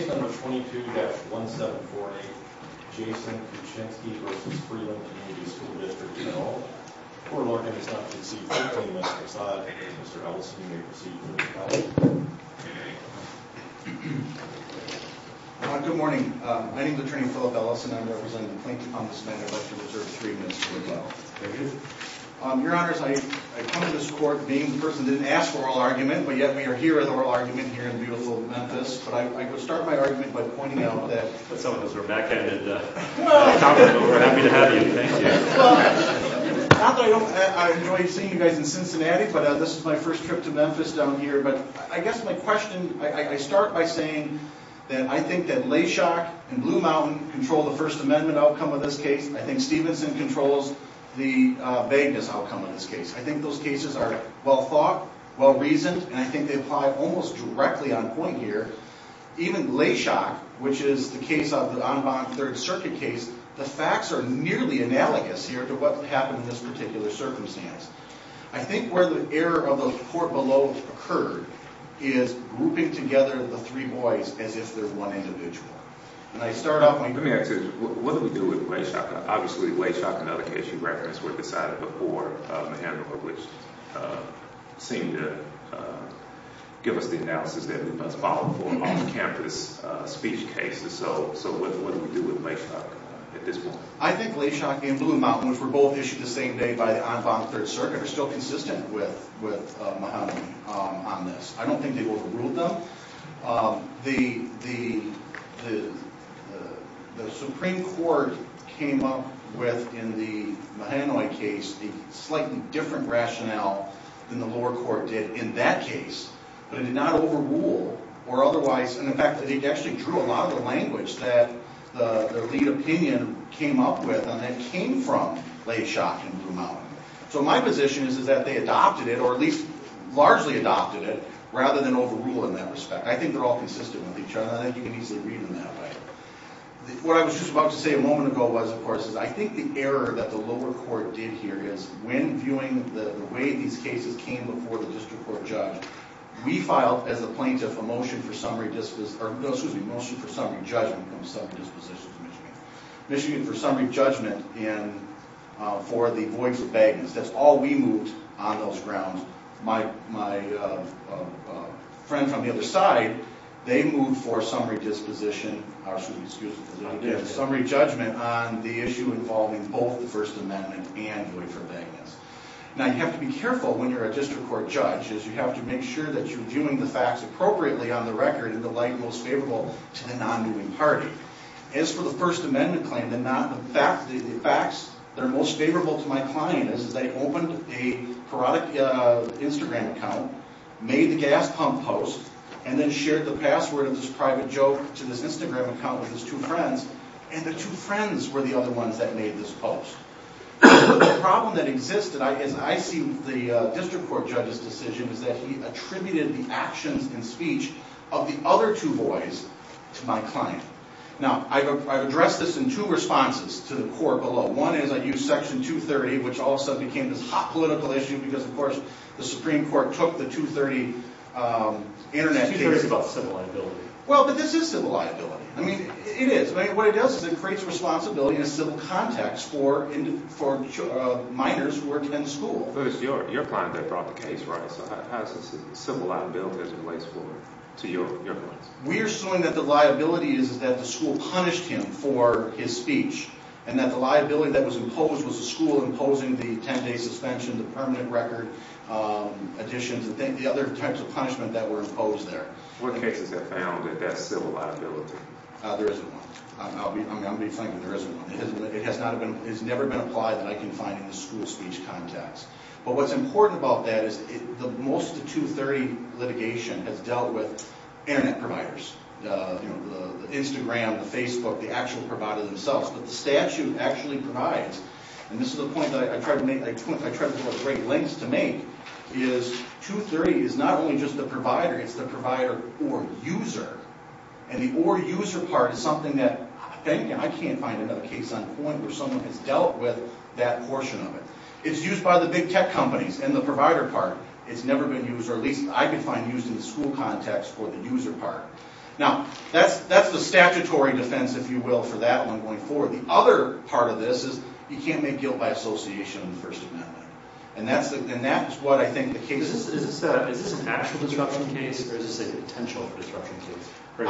Case number 22-1748, Jason Kutchinski v. Freeland Community School District, you know, poor Morgan is not conceivable in this case. I'll have to ask Mr. Ellison to make a receipt for me. Good morning. My name is Attorney Philip Ellison. I'm representing the plaintiff on this matter. I'd like to reserve three minutes for the trial. Thank you. Your Honors, I come to this court being the person that didn't ask for oral argument, but yet we are here in oral argument here in beautiful Memphis. But I would start my argument by pointing out that... Some of us are backhanded, but we're happy to have you. Thank you. Well, not that I don't enjoy seeing you guys in Cincinnati, but this is my first trip to Memphis down here. But I guess my question, I start by saying that I think that Leshock and Blue Mountain control the First Amendment outcome of this case. I think Stevenson controls the vagueness outcome of this case. I think those cases are well-thought, well-reasoned, and I think they apply almost directly on point here. Even Leshock, which is the case of the En Bonne Third Circuit case, the facts are nearly analogous here to what happened in this particular circumstance. I think where the error of the court below occurred is grouping together the three boys as if they're one individual. Let me ask you, what do we do with Leshock? Obviously, Leshock, another case you referenced, was decided before Mahandler, which seemed to give us the analysis that we must follow for on-campus speech cases. So what do we do with Leshock at this point? I think Leshock and Blue Mountain, which were both issued the same day by the En Bonne Third Circuit, are still consistent with Mahandler on this. I don't think they overruled them. The Supreme Court came up with, in the Mahanoi case, a slightly different rationale than the lower court did in that case. But it did not overrule or otherwise, and in fact, they actually drew a lot of the language that the lead opinion came up with and that came from Leshock and Blue Mountain. So my position is that they adopted it, or at least largely adopted it, rather than overrule in that respect. I think they're all consistent with each other, and I think you can easily read them that way. What I was just about to say a moment ago was, of course, is I think the error that the lower court did here is, when viewing the way these cases came before the district court judge, we filed, as a plaintiff, a motion for summary judgment for the voids of vagueness. That's all we moved on those grounds. My friend from the other side, they moved for summary judgment on the issue involving both the First Amendment and voids of vagueness. Now, you have to be careful when you're a district court judge, as you have to make sure that you're viewing the facts appropriately on the record in the light most favorable to the non-viewing party. As for the First Amendment claim, the facts that are most favorable to my client is they opened a parodic Instagram account, made the gas pump post, and then shared the password of this private joke to this Instagram account with his two friends, and the two friends were the other ones that made this post. The problem that existed, as I see the district court judge's decision, is that he attributed the actions and speech of the other two boys to my client. Now, I've addressed this in two responses to the court below. One is I used Section 230, which all of a sudden became this hot political issue, because, of course, the Supreme Court took the 230 Internet case about civil liability. Well, but this is civil liability. I mean, it is. I mean, what it does is it creates responsibility in a civil context for minors who are attending school. We are suing that the liability is that the school punished him for his speech, and that the liability that was imposed was the school imposing the 10-day suspension, the permanent record additions, and the other types of punishment that were imposed there. There isn't one. I'm going to be frank with you. There isn't one. It has never been applied that I can find in the school speech context. But what's important about that is most of the 230 litigation has dealt with Internet providers. You know, the Instagram, the Facebook, the actual provider themselves. But the statute actually provides, and this is the point I tried to make, is 230 is not only just the provider. It's the provider or user. And the or user part is something that I can't find another case on point where someone has dealt with that portion of it. It's used by the big tech companies, and the provider part has never been used, or at least I could find used in the school context for the user part. Now, that's the statutory defense, if you will, for that one going forward. The other part of this is you can't make guilt by association in the First Amendment, and that's what I think the case is. Is this an actual disruption case, or is this a potential disruption case?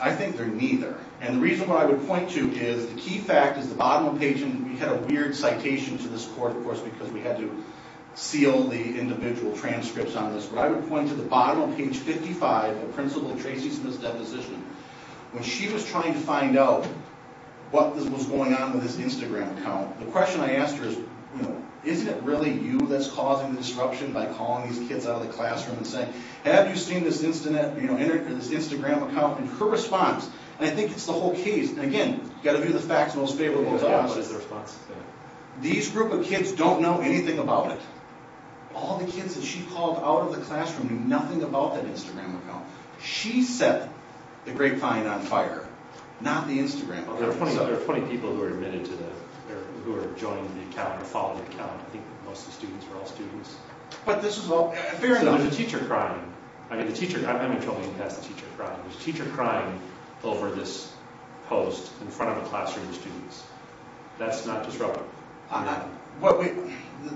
I think they're neither, and the reason why I would point to is the key fact is the bottom of page, and we had a weird citation to this court, of course, because we had to seal the individual transcripts on this. But I would point to the bottom of page 55 of Principal Tracy Smith's deposition. When she was trying to find out what was going on with this Instagram account, the question I asked her is, isn't it really you that's causing the disruption by calling these kids out of the classroom and saying, have you seen this Instagram account? And her response, and I think it's the whole case, and again, you've got to view the facts most favorably. These group of kids don't know anything about it. All the kids that she called out of the classroom knew nothing about that Instagram account. She set the grapevine on fire, not the Instagram account. There are 20 people who are admitted to the, who are joining the account or following the account. I think most of the students are all students. But this was all, apparently... So there's a teacher crying. I mean, the teacher, I haven't even told you who has the teacher crying. There's a teacher crying over this post in front of a classroom of students. That's not disruptive. Well,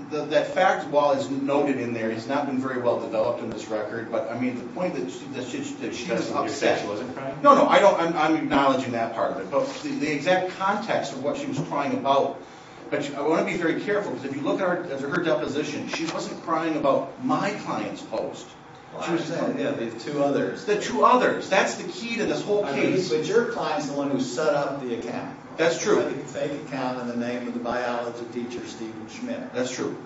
that facts wall is noted in there. It's not been very well developed in this record. But, I mean, the point is that she was upset. No, no, I'm acknowledging that part of it. But the exact context of what she was crying about, but I want to be very careful, because if you look at her deposition, she wasn't crying about my client's post. She was crying about the two others. The two others. That's the key to this whole case. But your client's the one who set up the account. That's true. He had a fake account in the name of the biology teacher, Stephen Schmidt. That's true.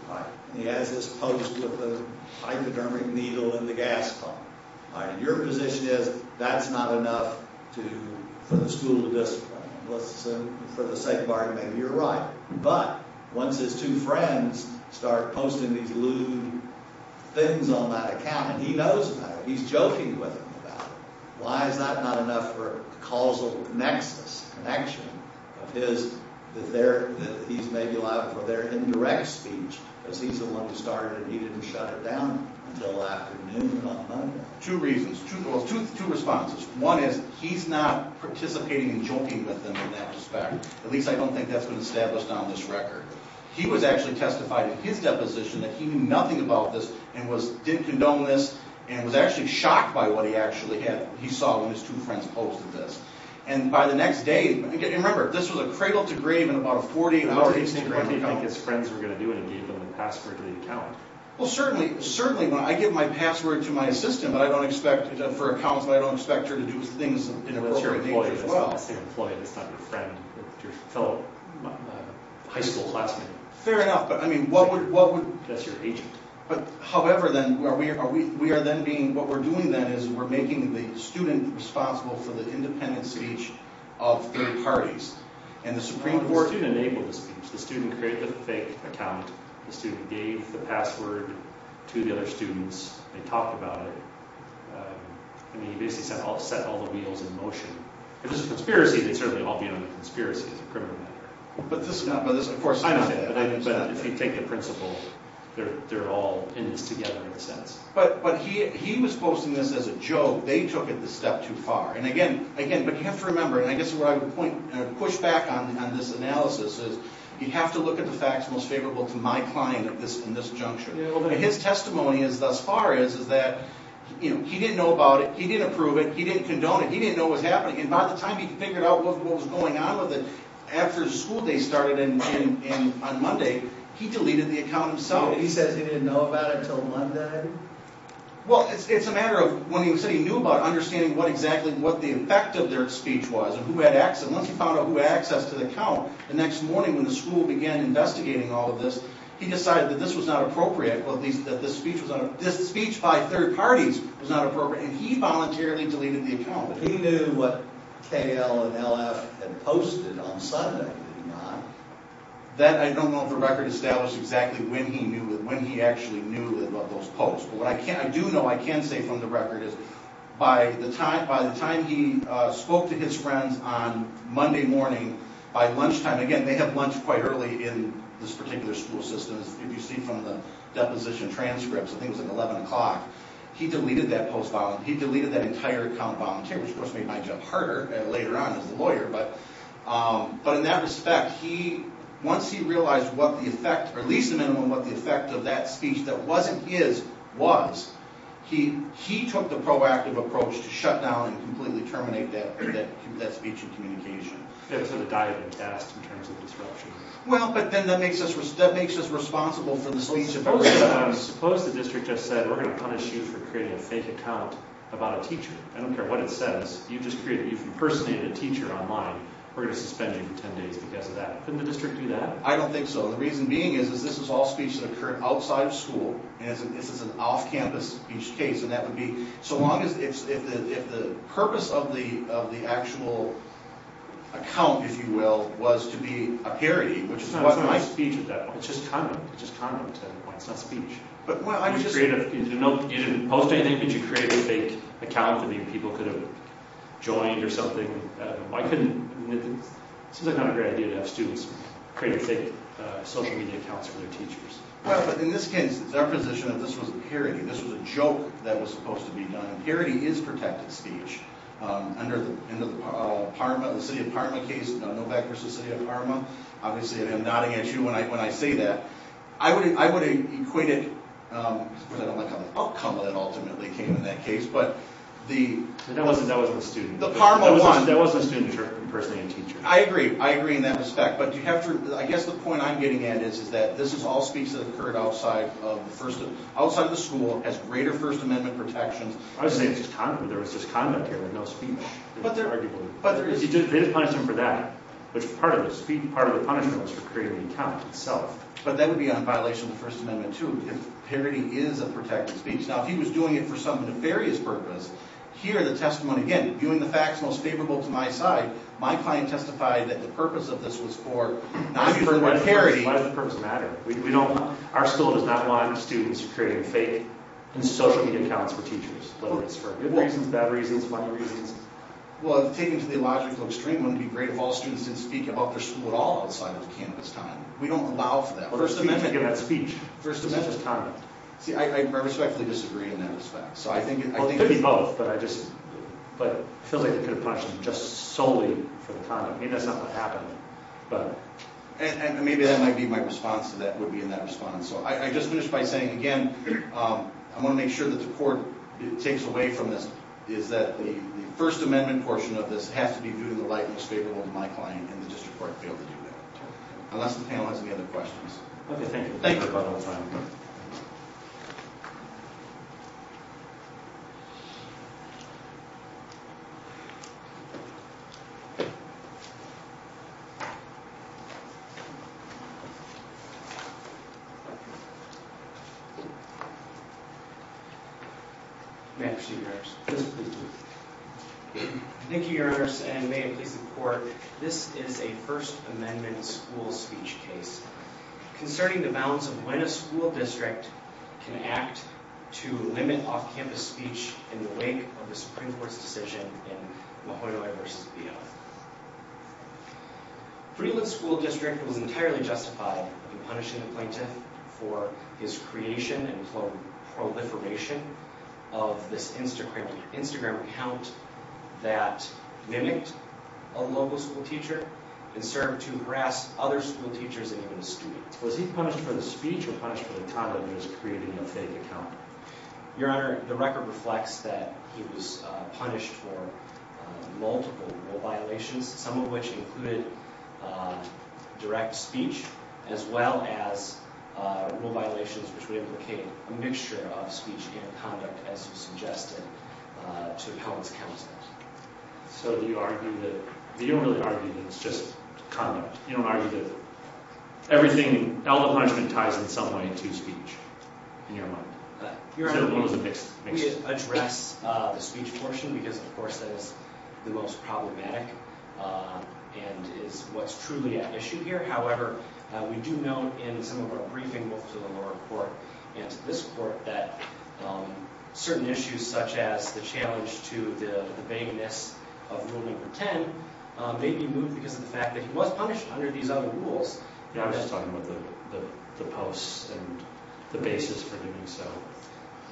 He has this post with a hypodermic needle in the gas pump. Your position is that's not enough for the school to discipline him. For the sake of argument, maybe you're right. But once his two friends start posting these lewd things on that account, and he knows about it, he's joking with him about it. Why is that not enough for a causal nexus, connection, that these may be allowed for their indirect speech, because he's the one who started it and he didn't shut it down until after noon on Monday. Two reasons. Two responses. One is he's not participating in joking with him in that respect. At least I don't think that's been established on this record. He was actually testified in his deposition that he knew nothing about this and didn't condone this and was actually shocked by what he actually had. He saw when his two friends posted this. And by the next day, remember, this was a cradle-to-grave in about a 48-hour Instagram account. What did he think his friends were going to do when he gave them the password to the account? Well, certainly, I give my password to my assistant for accounts, but I don't expect her to do things in an appropriate nature as well. And that's your employee. That's not your friend. That's your fellow high school classmate. Fair enough, but I mean, what would... That's your agent. But however, then, we are then being... What we're doing, then, is we're making the student responsible for the independent speech of three parties. And the Supreme Court... The student enabled the speech. The student created the fake account. The student gave the password to the other students. They talked about it. I mean, he basically set all the wheels in motion. If this is a conspiracy, they'd certainly all be on the conspiracy as a criminal matter. But this is not... I understand. But if you take the principle, they're all in this together in a sense. But he was posting this as a joke. They took it a step too far. And again, but you have to remember, and I guess where I would push back on this analysis is you have to look at the facts most favorable to my client in this juncture. His testimony thus far is that he didn't know about it. He didn't approve it. He didn't condone it. He didn't know what was happening. And by the time he figured out what was going on with it, after the school day started on Monday, he deleted the account himself. He says he didn't know about it until Monday? Well, it's a matter of when he said he knew about it, understanding what exactly the effect of their speech was and who had access. Once he found out who had access to the account, the next morning when the school began investigating all of this, he decided that this was not appropriate, that this speech by third parties was not appropriate. And he voluntarily deleted the account. He knew what K.L. and L.F. had posted on Sunday, did he not? That, I don't know for a record, established exactly when he knew, when he actually knew about those posts. But what I do know, I can say from the record, is by the time he spoke to his friends on Monday morning by lunchtime, again, they had lunch quite early in this particular school system, as you can see from the deposition transcripts, I think it was at 11 o'clock, he deleted that post voluntarily. He deleted that entire account voluntarily, which of course made my job harder later on as a lawyer. But in that respect, once he realized what the effect, or at least the minimum what the effect of that speech that wasn't his was, he took the proactive approach to shut down and completely terminate that speech and communication. It was sort of a diving task in terms of disruption. Well, but then that makes us responsible for the speech and communication. But suppose the district just said, we're going to punish you for creating a fake account about a teacher. I don't care what it says. You've impersonated a teacher online. We're going to suspend you for 10 days because of that. Couldn't the district do that? I don't think so. The reason being is this is all speech that occurred outside of school. This is an off-campus speech case, and that would be so long as the purpose of the actual account, if you will, was to be a parody, which is not a speech at that point. It's just condom. It's just condom at that point. It's not speech. You didn't post anything. Could you create a fake account that maybe people could have joined or something? Why couldn't? It seems like not a great idea to have students create fake social media accounts for their teachers. Well, but in this case, it's our position that this was a parody. This was a joke that was supposed to be done. A parody is protected speech. Under the City of Parma case, Novak v. City of Parma, obviously I am nodding at you when I say that. I would have equated, because I don't like how the outcome of it ultimately came in that case, but the Parma one. That wasn't a student-person and teacher. I agree. I agree in that respect. But I guess the point I'm getting at is that this is all speech that occurred outside of the school, has greater First Amendment protections. I would say it's just condom. There was just condom here and no speech. They didn't punish him for that. Part of the punishment was for creating the account itself. But that would be on violation of the First Amendment, too, if parody is a protected speech. Now, if he was doing it for some nefarious purpose, here the testimony again, viewing the facts most favorable to my side, my client testified that the purpose of this was for not using the word parody. Why does the purpose matter? Our school does not want students creating fake social media accounts for teachers, whether it's for good reasons, bad reasons, funny reasons. Well, taken to the logical extreme, wouldn't it be great if all students didn't speak about their school at all outside of the campus time? We don't allow for that. First Amendment speech is just condom. See, I respectfully disagree in that respect. It could be both, but it feels like they could have punished him just solely for the condom. Maybe that's not what happened. And maybe that might be my response to that, would be in that response. I just finished by saying, again, I want to make sure that the court takes away from this is that the First Amendment portion of this has to be viewed in the light most favorable to my client, and the district court failed to do that. Unless the panel has any other questions. Okay, thank you. Thank you. Thank you. Thank you, Your Honor, and may I please report, this is a First Amendment school speech case. Concerning the bounds of when a school district can act to limit off-campus speech in the wake of the Supreme Court's decision in Mahonoi v. Biala. Freeland School District was entirely justified in punishing the plaintiff for his creation and proliferation of this Instagram account that mimicked a local school teacher and served to harass other school teachers and even his students. Was he punished for the speech or punished for the condom he was creating in a fake account? Your Honor, the record reflects that he was punished for multiple rule violations, some of which included direct speech, as well as rule violations which would implicate a mixture of speech and conduct, as you suggested, to appellant's counsel. So you argue that, you don't really argue that it's just conduct. You don't argue that everything, all the punishment ties in some way to speech, in your mind? Your Honor, we address the speech portion because, of course, that is the most problematic and is what's truly at issue here. However, we do note in some of our briefing both to the lower court and to this court that certain issues such as the challenge to the beingness of Rule No. 10 may be moved because of the fact that he was punished under these other rules. I'm just talking about the posts and the basis for doing so.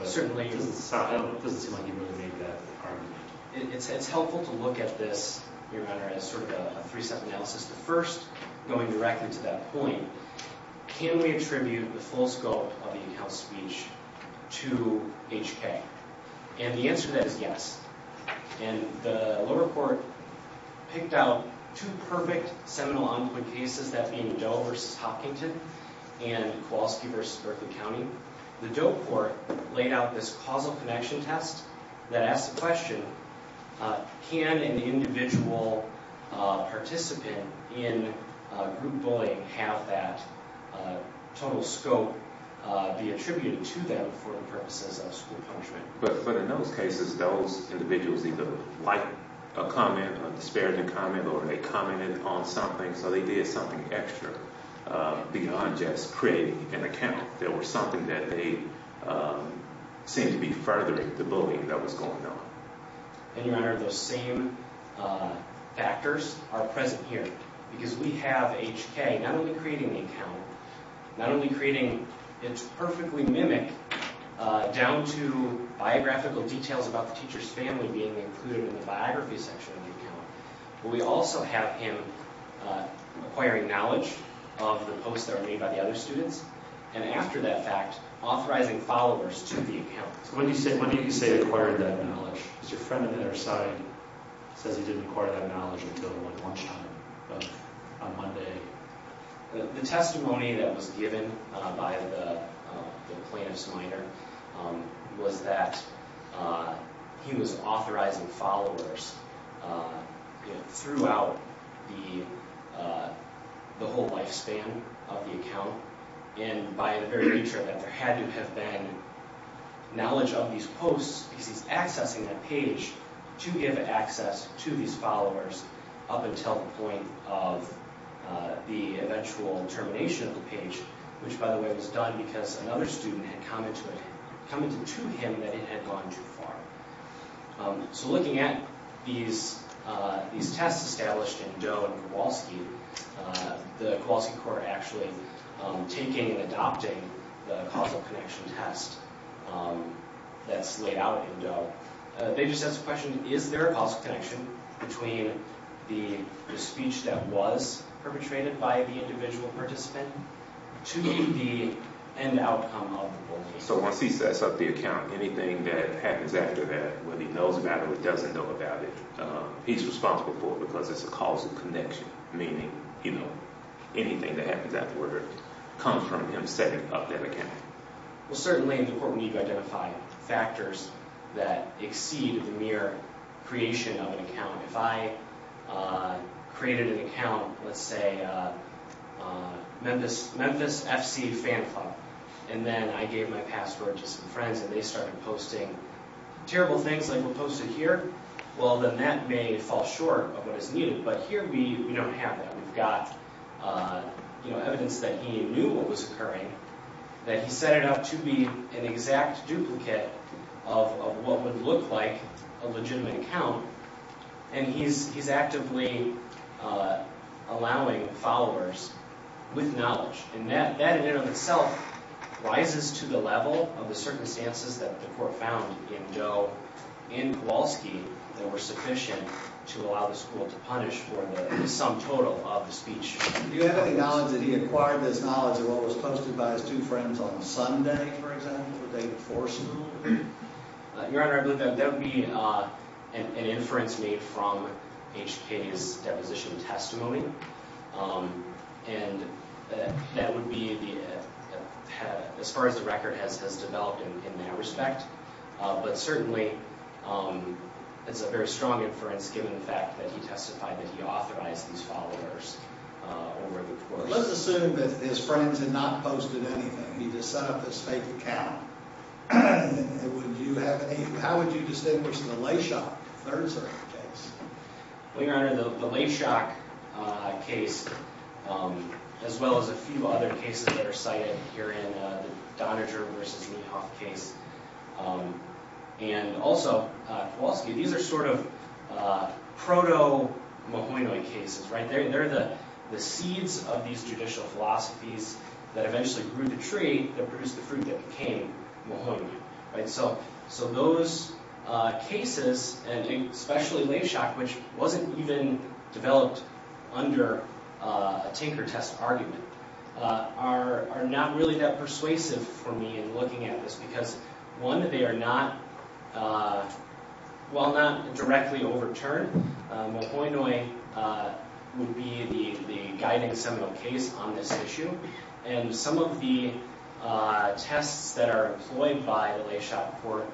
Certainly. It doesn't seem like he really made that argument. It's helpful to look at this, Your Honor, as sort of a three-step analysis. The first, going directly to that point, can we attribute the full scope of the in-house speech to HK? And the answer to that is yes. And the lower court picked out two perfect seminal on-point cases, that being Doe v. Hopkinton and Kowalski v. Berkley County. The Doe court laid out this causal connection test that asked the question, can an individual participant in group bullying have that total scope be attributed to them for the purposes of school punishment? But in those cases, those individuals either liked a comment, a disparaging comment, or they commented on something, so they did something extra beyond just creating an account. There was something that they seemed to be furthering the bullying that was going on. And, Your Honor, those same factors are present here. Because we have HK not only creating the account, not only creating its perfectly mimicked, down to biographical details about the teacher's family being included in the biography section of the account, but we also have him acquiring knowledge of the posts that were made by the other students, and after that fact, authorizing followers to the account. So when do you say acquired that knowledge? Because your friend on the other side says he didn't acquire that knowledge until lunchtime on Monday. The testimony that was given by the plaintiff's minor was that he was authorizing followers and by the very nature of that, there had to have been knowledge of these posts because he's accessing that page to give access to these followers up until the point of the eventual termination of the page, which, by the way, was done because another student had commented to him that it had gone too far. So looking at these tests established in Doe and Kowalski, the Kowalski court actually taking and adopting the causal connection test that's laid out in Doe, they just ask the question, is there a causal connection between the speech that was perpetrated by the individual participant to the end outcome of the bullying? So once he sets up the account, anything that happens after that, whether he knows about it or doesn't know about it, he's responsible for it because it's a causal connection, meaning anything that happens after it comes from him setting up that account. Well, certainly in the court we need to identify factors that exceed the mere creation of an account. If I created an account, let's say Memphis FC Fan Club, and then I gave my password to some friends and they started posting terrible things like what's posted here, well, then that may fall short of what is needed. But here we don't have that. We've got, you know, evidence that he knew what was occurring, that he set it up to be an exact duplicate of what would look like a legitimate account, and he's actively allowing followers with knowledge. And that in and of itself rises to the level of the circumstances that the court found in Joe and Kowalski that were sufficient to allow the school to punish for the sum total of the speech. Do you have any knowledge that he acquired this knowledge of what was posted by his two friends on Sunday, for example, the day before school? Your Honor, I believe that would be an inference made from H.K.'s deposition testimony. And that would be, as far as the record has developed in that respect, but certainly it's a very strong inference given the fact that he testified that he authorized these followers over the course. Let's assume that his friends had not posted anything. He just set up this fake account. Would you have any, how would you distinguish the lay shock, the third-degree case? Well, Your Honor, the lay shock case, as well as a few other cases that are cited here in the Doniger v. Meehoff case, and also Kowalski, these are sort of proto-Mahoney cases, right? They're the seeds of these judicial philosophies that eventually grew the tree that produced the fruit that became Mahoney. So those cases, and especially lay shock, which wasn't even developed under a Tinker test argument, are not really that persuasive for me in looking at this because, one, they are not, well, not directly overturned. Mahoney would be the guiding seminal case on this issue. And some of the tests that are employed by the lay shock court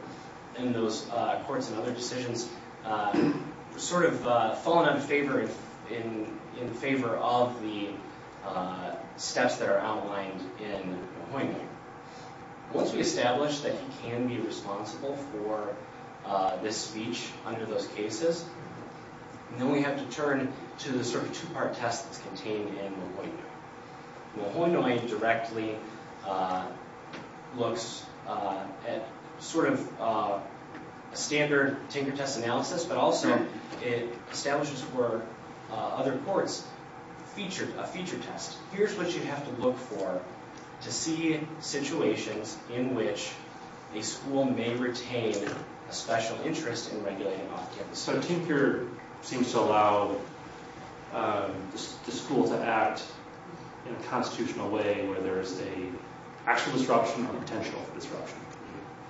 in those courts and other decisions have sort of fallen in favor of the steps that are outlined in Mahoney. Once we establish that he can be responsible for this speech under those cases, then we have to turn to the sort of two-part test that's contained in Mahoney. Mahoney directly looks at sort of a standard Tinker test analysis, but also it establishes for other courts a feature test. Here's what you have to look for to see situations in which a school may retain a special interest in regulating off-campus. So Tinker seems to allow the school to act in a constitutional way where there is an actual disruption or a potential disruption.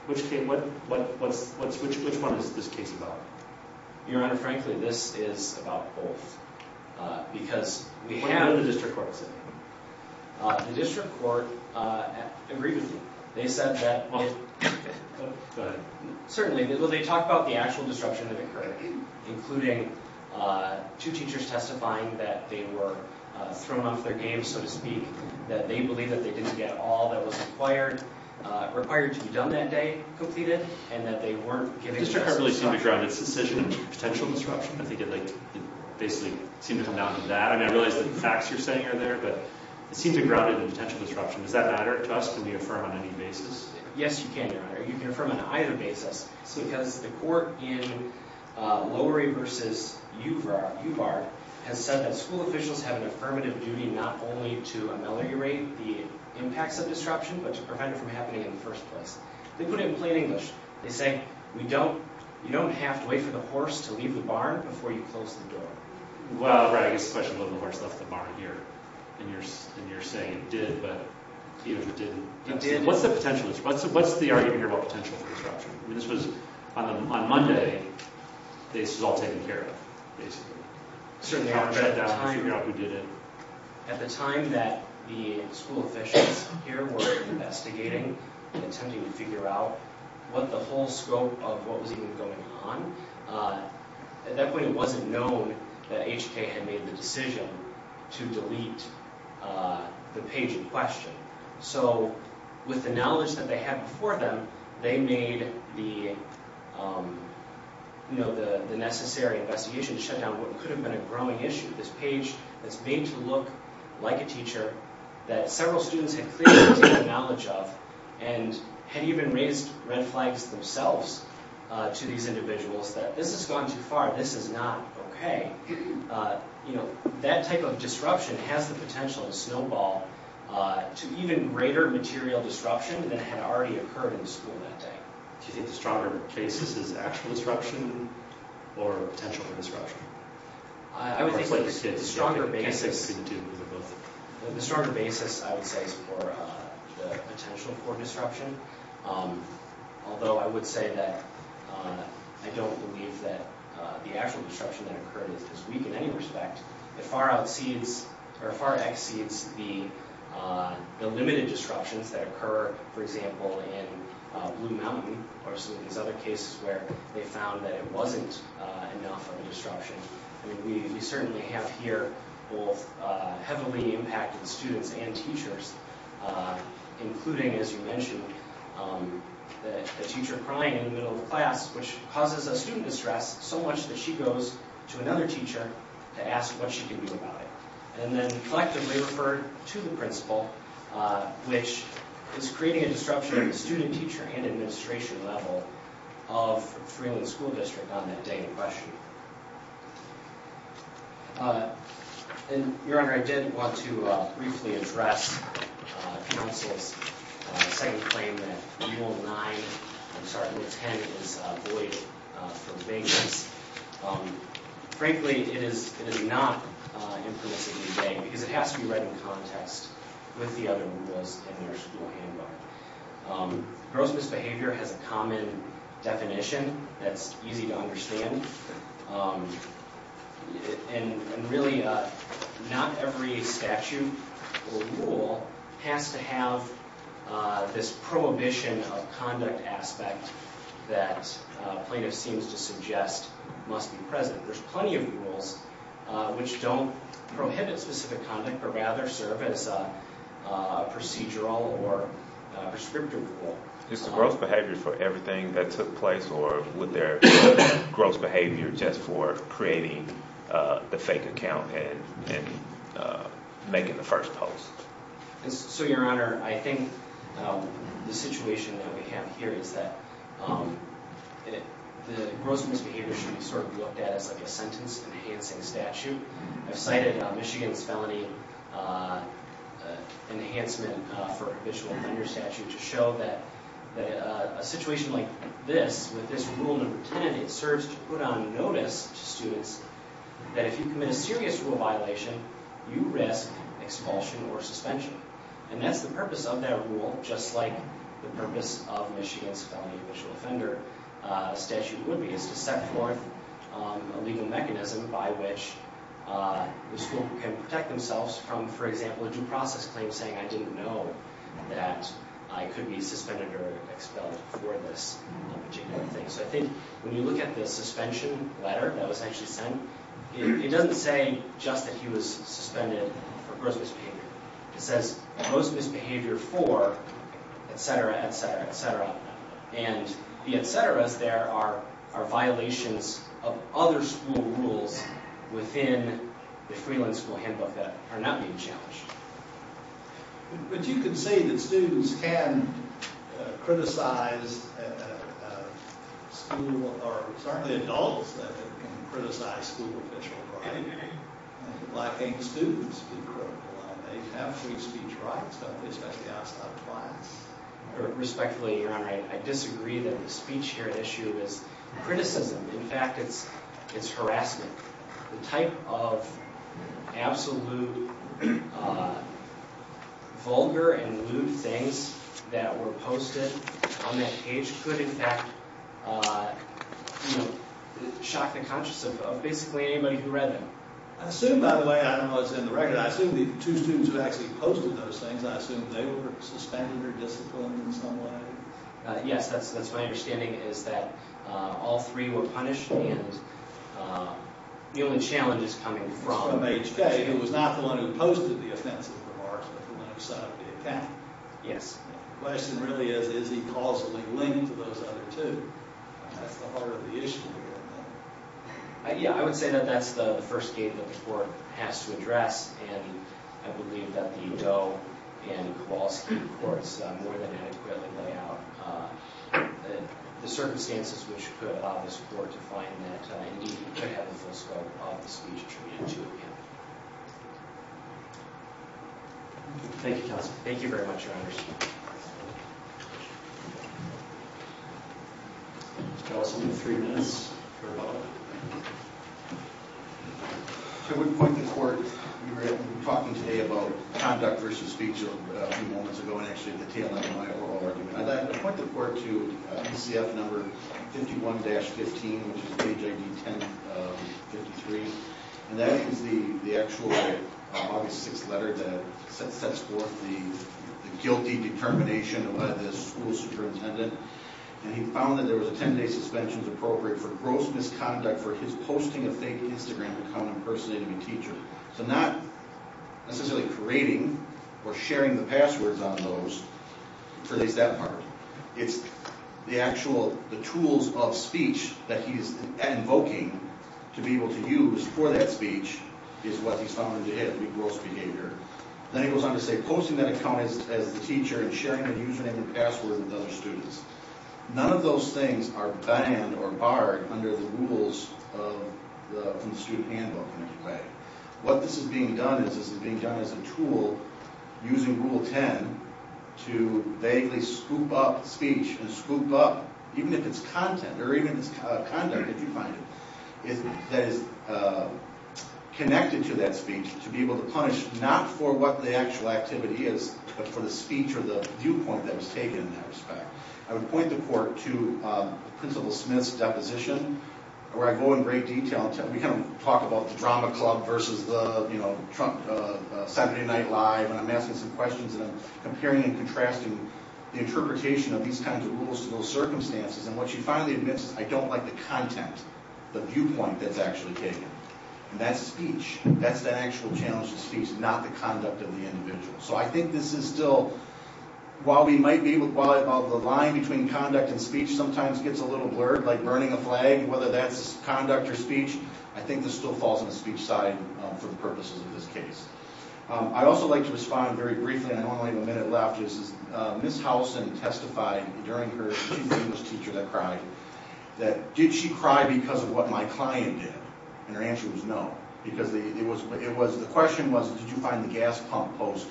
Which one is this case about? Your Honor, frankly, this is about both. Because we have... What did the district court say? The district court agreed with me. They said that... Go ahead. Certainly. Well, they talk about the actual disruption that occurred, including two teachers testifying that they were thrown off their game, so to speak, that they believe that they didn't get all that was required to be done that day completed, and that they weren't given... The district court really seemed to ground its decision in potential disruption. I think it basically seemed to come down to that. I mean, I realize that the facts you're saying are there, but it seems to be grounded in potential disruption. Can we affirm on any basis? Yes, you can, Your Honor. You can affirm on either basis. Because the court in Lowery v. UBAR has said that school officials have an affirmative duty not only to ameliorate the impacts of disruption, but to prevent it from happening in the first place. They put it in plain English. They say, you don't have to wait for the horse to leave the barn before you close the door. Well, right. I guess the question is whether the horse left the barn here. And you're saying it did, but he or she didn't. It did. The question is, what's the argument here about potential disruption? I mean, this was on Monday. This was all taken care of, basically. At the time that the school officials here were investigating and attempting to figure out what the whole scope of what was even going on, at that point it wasn't known that HK had made the decision to delete the page in question. So with the knowledge that they had before them, they made the necessary investigation to shut down what could have been a growing issue, this page that's made to look like a teacher that several students had clearly taken knowledge of and had even raised red flags themselves to these individuals that this has gone too far, this is not okay. That type of disruption has the potential to snowball to even greater material disruption than had already occurred in the school that day. Do you think the stronger basis is actual disruption or potential for disruption? I would say the stronger basis, I would say, is for the potential for disruption. Although I would say that I don't believe that the actual disruption that occurred is weak in any respect. It far exceeds the limited disruptions that occur, for example, in Blue Mountain or some of these other cases where they found that it wasn't enough of a disruption. We certainly have here both heavily impacted students and teachers, including, as you mentioned, the teacher crying in the middle of the class, which causes a student distress so much that she goes to another teacher to ask what she can do about it. And then collectively referred to the principal, which is creating a disruption in the student, teacher, and administration level of Freeland School District on that day in question. Your Honor, I did want to briefly address counsel's second claim that Rule 9, I'm sorry, Rule 10 is void for vagueness. Frankly, it is not impermissibly vague because it has to be read in context with the other rules in their school handbook. Gross misbehavior has a common definition that's easy to understand. And really, not every statute or rule has to have this prohibition of conduct aspect that plaintiff seems to suggest must be present. There's plenty of rules which don't prohibit specific conduct but rather serve as a procedural or prescriptive rule. Is the gross behavior for everything that took place, or would there be gross behavior just for creating the fake account and making the first post? So, Your Honor, I think the situation that we have here is that the gross misbehavior should be sort of looked at as a sentence-enhancing statute. I've cited Michigan's felony enhancement for official offender statute to show that a situation like this, with this Rule 10, it serves to put on notice to students that if you commit a serious rule violation, you risk expulsion or suspension. And that's the purpose of that rule, just like the purpose of Michigan's felony official offender statute would be, is to set forth a legal mechanism by which the school can protect themselves from, for example, a due process claim saying, I didn't know that I could be suspended or expelled for this particular thing. So I think when you look at the suspension letter that was actually sent, it doesn't say just that he was suspended for gross misbehavior. It says gross misbehavior for, et cetera, et cetera, et cetera. And the et ceteras there are violations of other school rules within the Freeland School Handbook that are not being challenged. But you can say that students can criticize school, or certainly adults, that they can criticize school official, right? Why can't students be critical? They have free speech rights, don't they, especially outside of class? Respectfully, Your Honor, I disagree that the speech here at issue is criticism. In fact, it's harassment. The type of absolute vulgar and lewd things that were posted on that page could, in fact, shock the conscience of basically anybody who read them. I assume, by the way, I don't know what's in the record, I assume the two students who actually posted those things, I assume they were suspended or disciplined in some way? Yes, that's my understanding, is that all three were punished, and the only challenge is coming from H.K., who was not the one who posted the offensive remarks, but the one who set up the attack. Yes. The question really is, is he causally linked to those other two? That's the heart of the issue here. Yeah, I would say that that's the first gate that the Court has to address, and I believe that the Doe and Kowalski courts more than adequately lay out the circumstances which put this Court to find that it needed to have a full scope of the speech attributed to it. Thank you, counsel. Thank you very much, Your Honor. Counsel, you have three minutes for a vote. I would point the Court... We were talking today about conduct versus speech a few moments ago, and actually the tail end of my oral argument. I'd like to point the Court to ECF number 51-15, which is page ID 10-53, and that is the actual August 6th letter that sets forth the guilty determination of the school superintendent, and he found that there was a 10-day suspension appropriate for gross misconduct for his posting a fake Instagram account impersonating a teacher. So not necessarily creating or sharing the passwords on those, or at least that part. It's the actual tools of speech that he's invoking to be able to use for that speech is what he's found to be gross behavior. Then he goes on to say, posting that account as the teacher and sharing a username and password with other students. None of those things are banned or barred under the rules from the student handbook in any way. What this is being done is this is being done as a tool, using Rule 10, to vaguely scoop up speech and scoop up, even if it's content or even it's conduct, if you find it, that is connected to that speech to be able to punish, not for what the actual activity is, but for the speech or the viewpoint that was taken in that respect. I would point the court to Principal Smith's deposition, where I go in great detail. We kind of talk about the drama club versus the Saturday Night Live, and I'm asking some questions and I'm comparing and contrasting the interpretation of these kinds of rules to those circumstances, and what she finally admits is, I don't like the content, the viewpoint that's actually taken. And that's speech. That's the actual challenge to speech, not the conduct of the individual. So I think this is still, while the line between conduct and speech sometimes gets a little blurred, like burning a flag, whether that's conduct or speech, I think this still falls on the speech side for the purposes of this case. I'd also like to respond very briefly, and I only have a minute left, is Ms. Howlson testified during her, she's the English teacher that cried, that, did she cry because of what my client did? And her answer was no, because the question was, did you find the gas pump post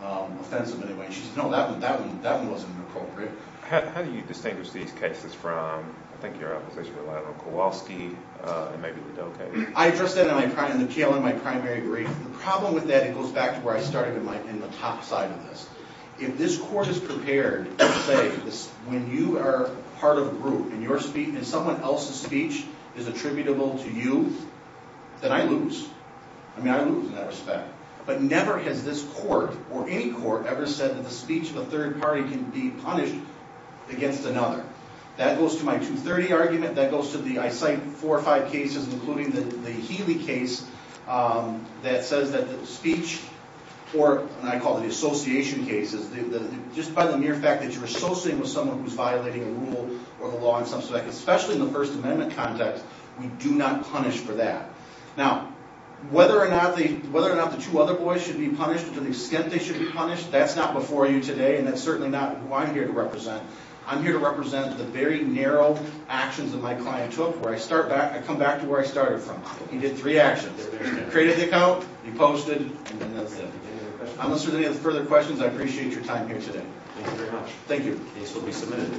offensive in any way? She said, no, that one wasn't appropriate. How do you distinguish these cases from, I think your opposition relied on, Kowalski and maybe the Doe case? I addressed that in the PLN, my primary brief. The problem with that, it goes back to where I started in the top side of this. If this court is prepared to say, when you are part of a group and someone else's speech is attributable to you, then I lose. I mean, I lose in that respect. But never has this court, or any court, ever said that the speech of a third party can be punished against another. That goes to my 230 argument, that goes to the, I cite four or five cases, including the Healy case, that says that the speech, or what I call the association cases, just by the mere fact that you're associating with someone who's violating a rule or the law in some respect, especially in the First Amendment context, we do not punish for that. Now, whether or not the two other boys should be punished, to the extent they should be punished, that's not before you today, and that's certainly not who I'm here to represent. I'm here to represent the very narrow actions that my client took, where I come back to where I started from. He did three actions. Created the account, he posted, and that's it. Unless there's any further questions, I appreciate your time here today. Thank you very much. Thank you. The case will be submitted.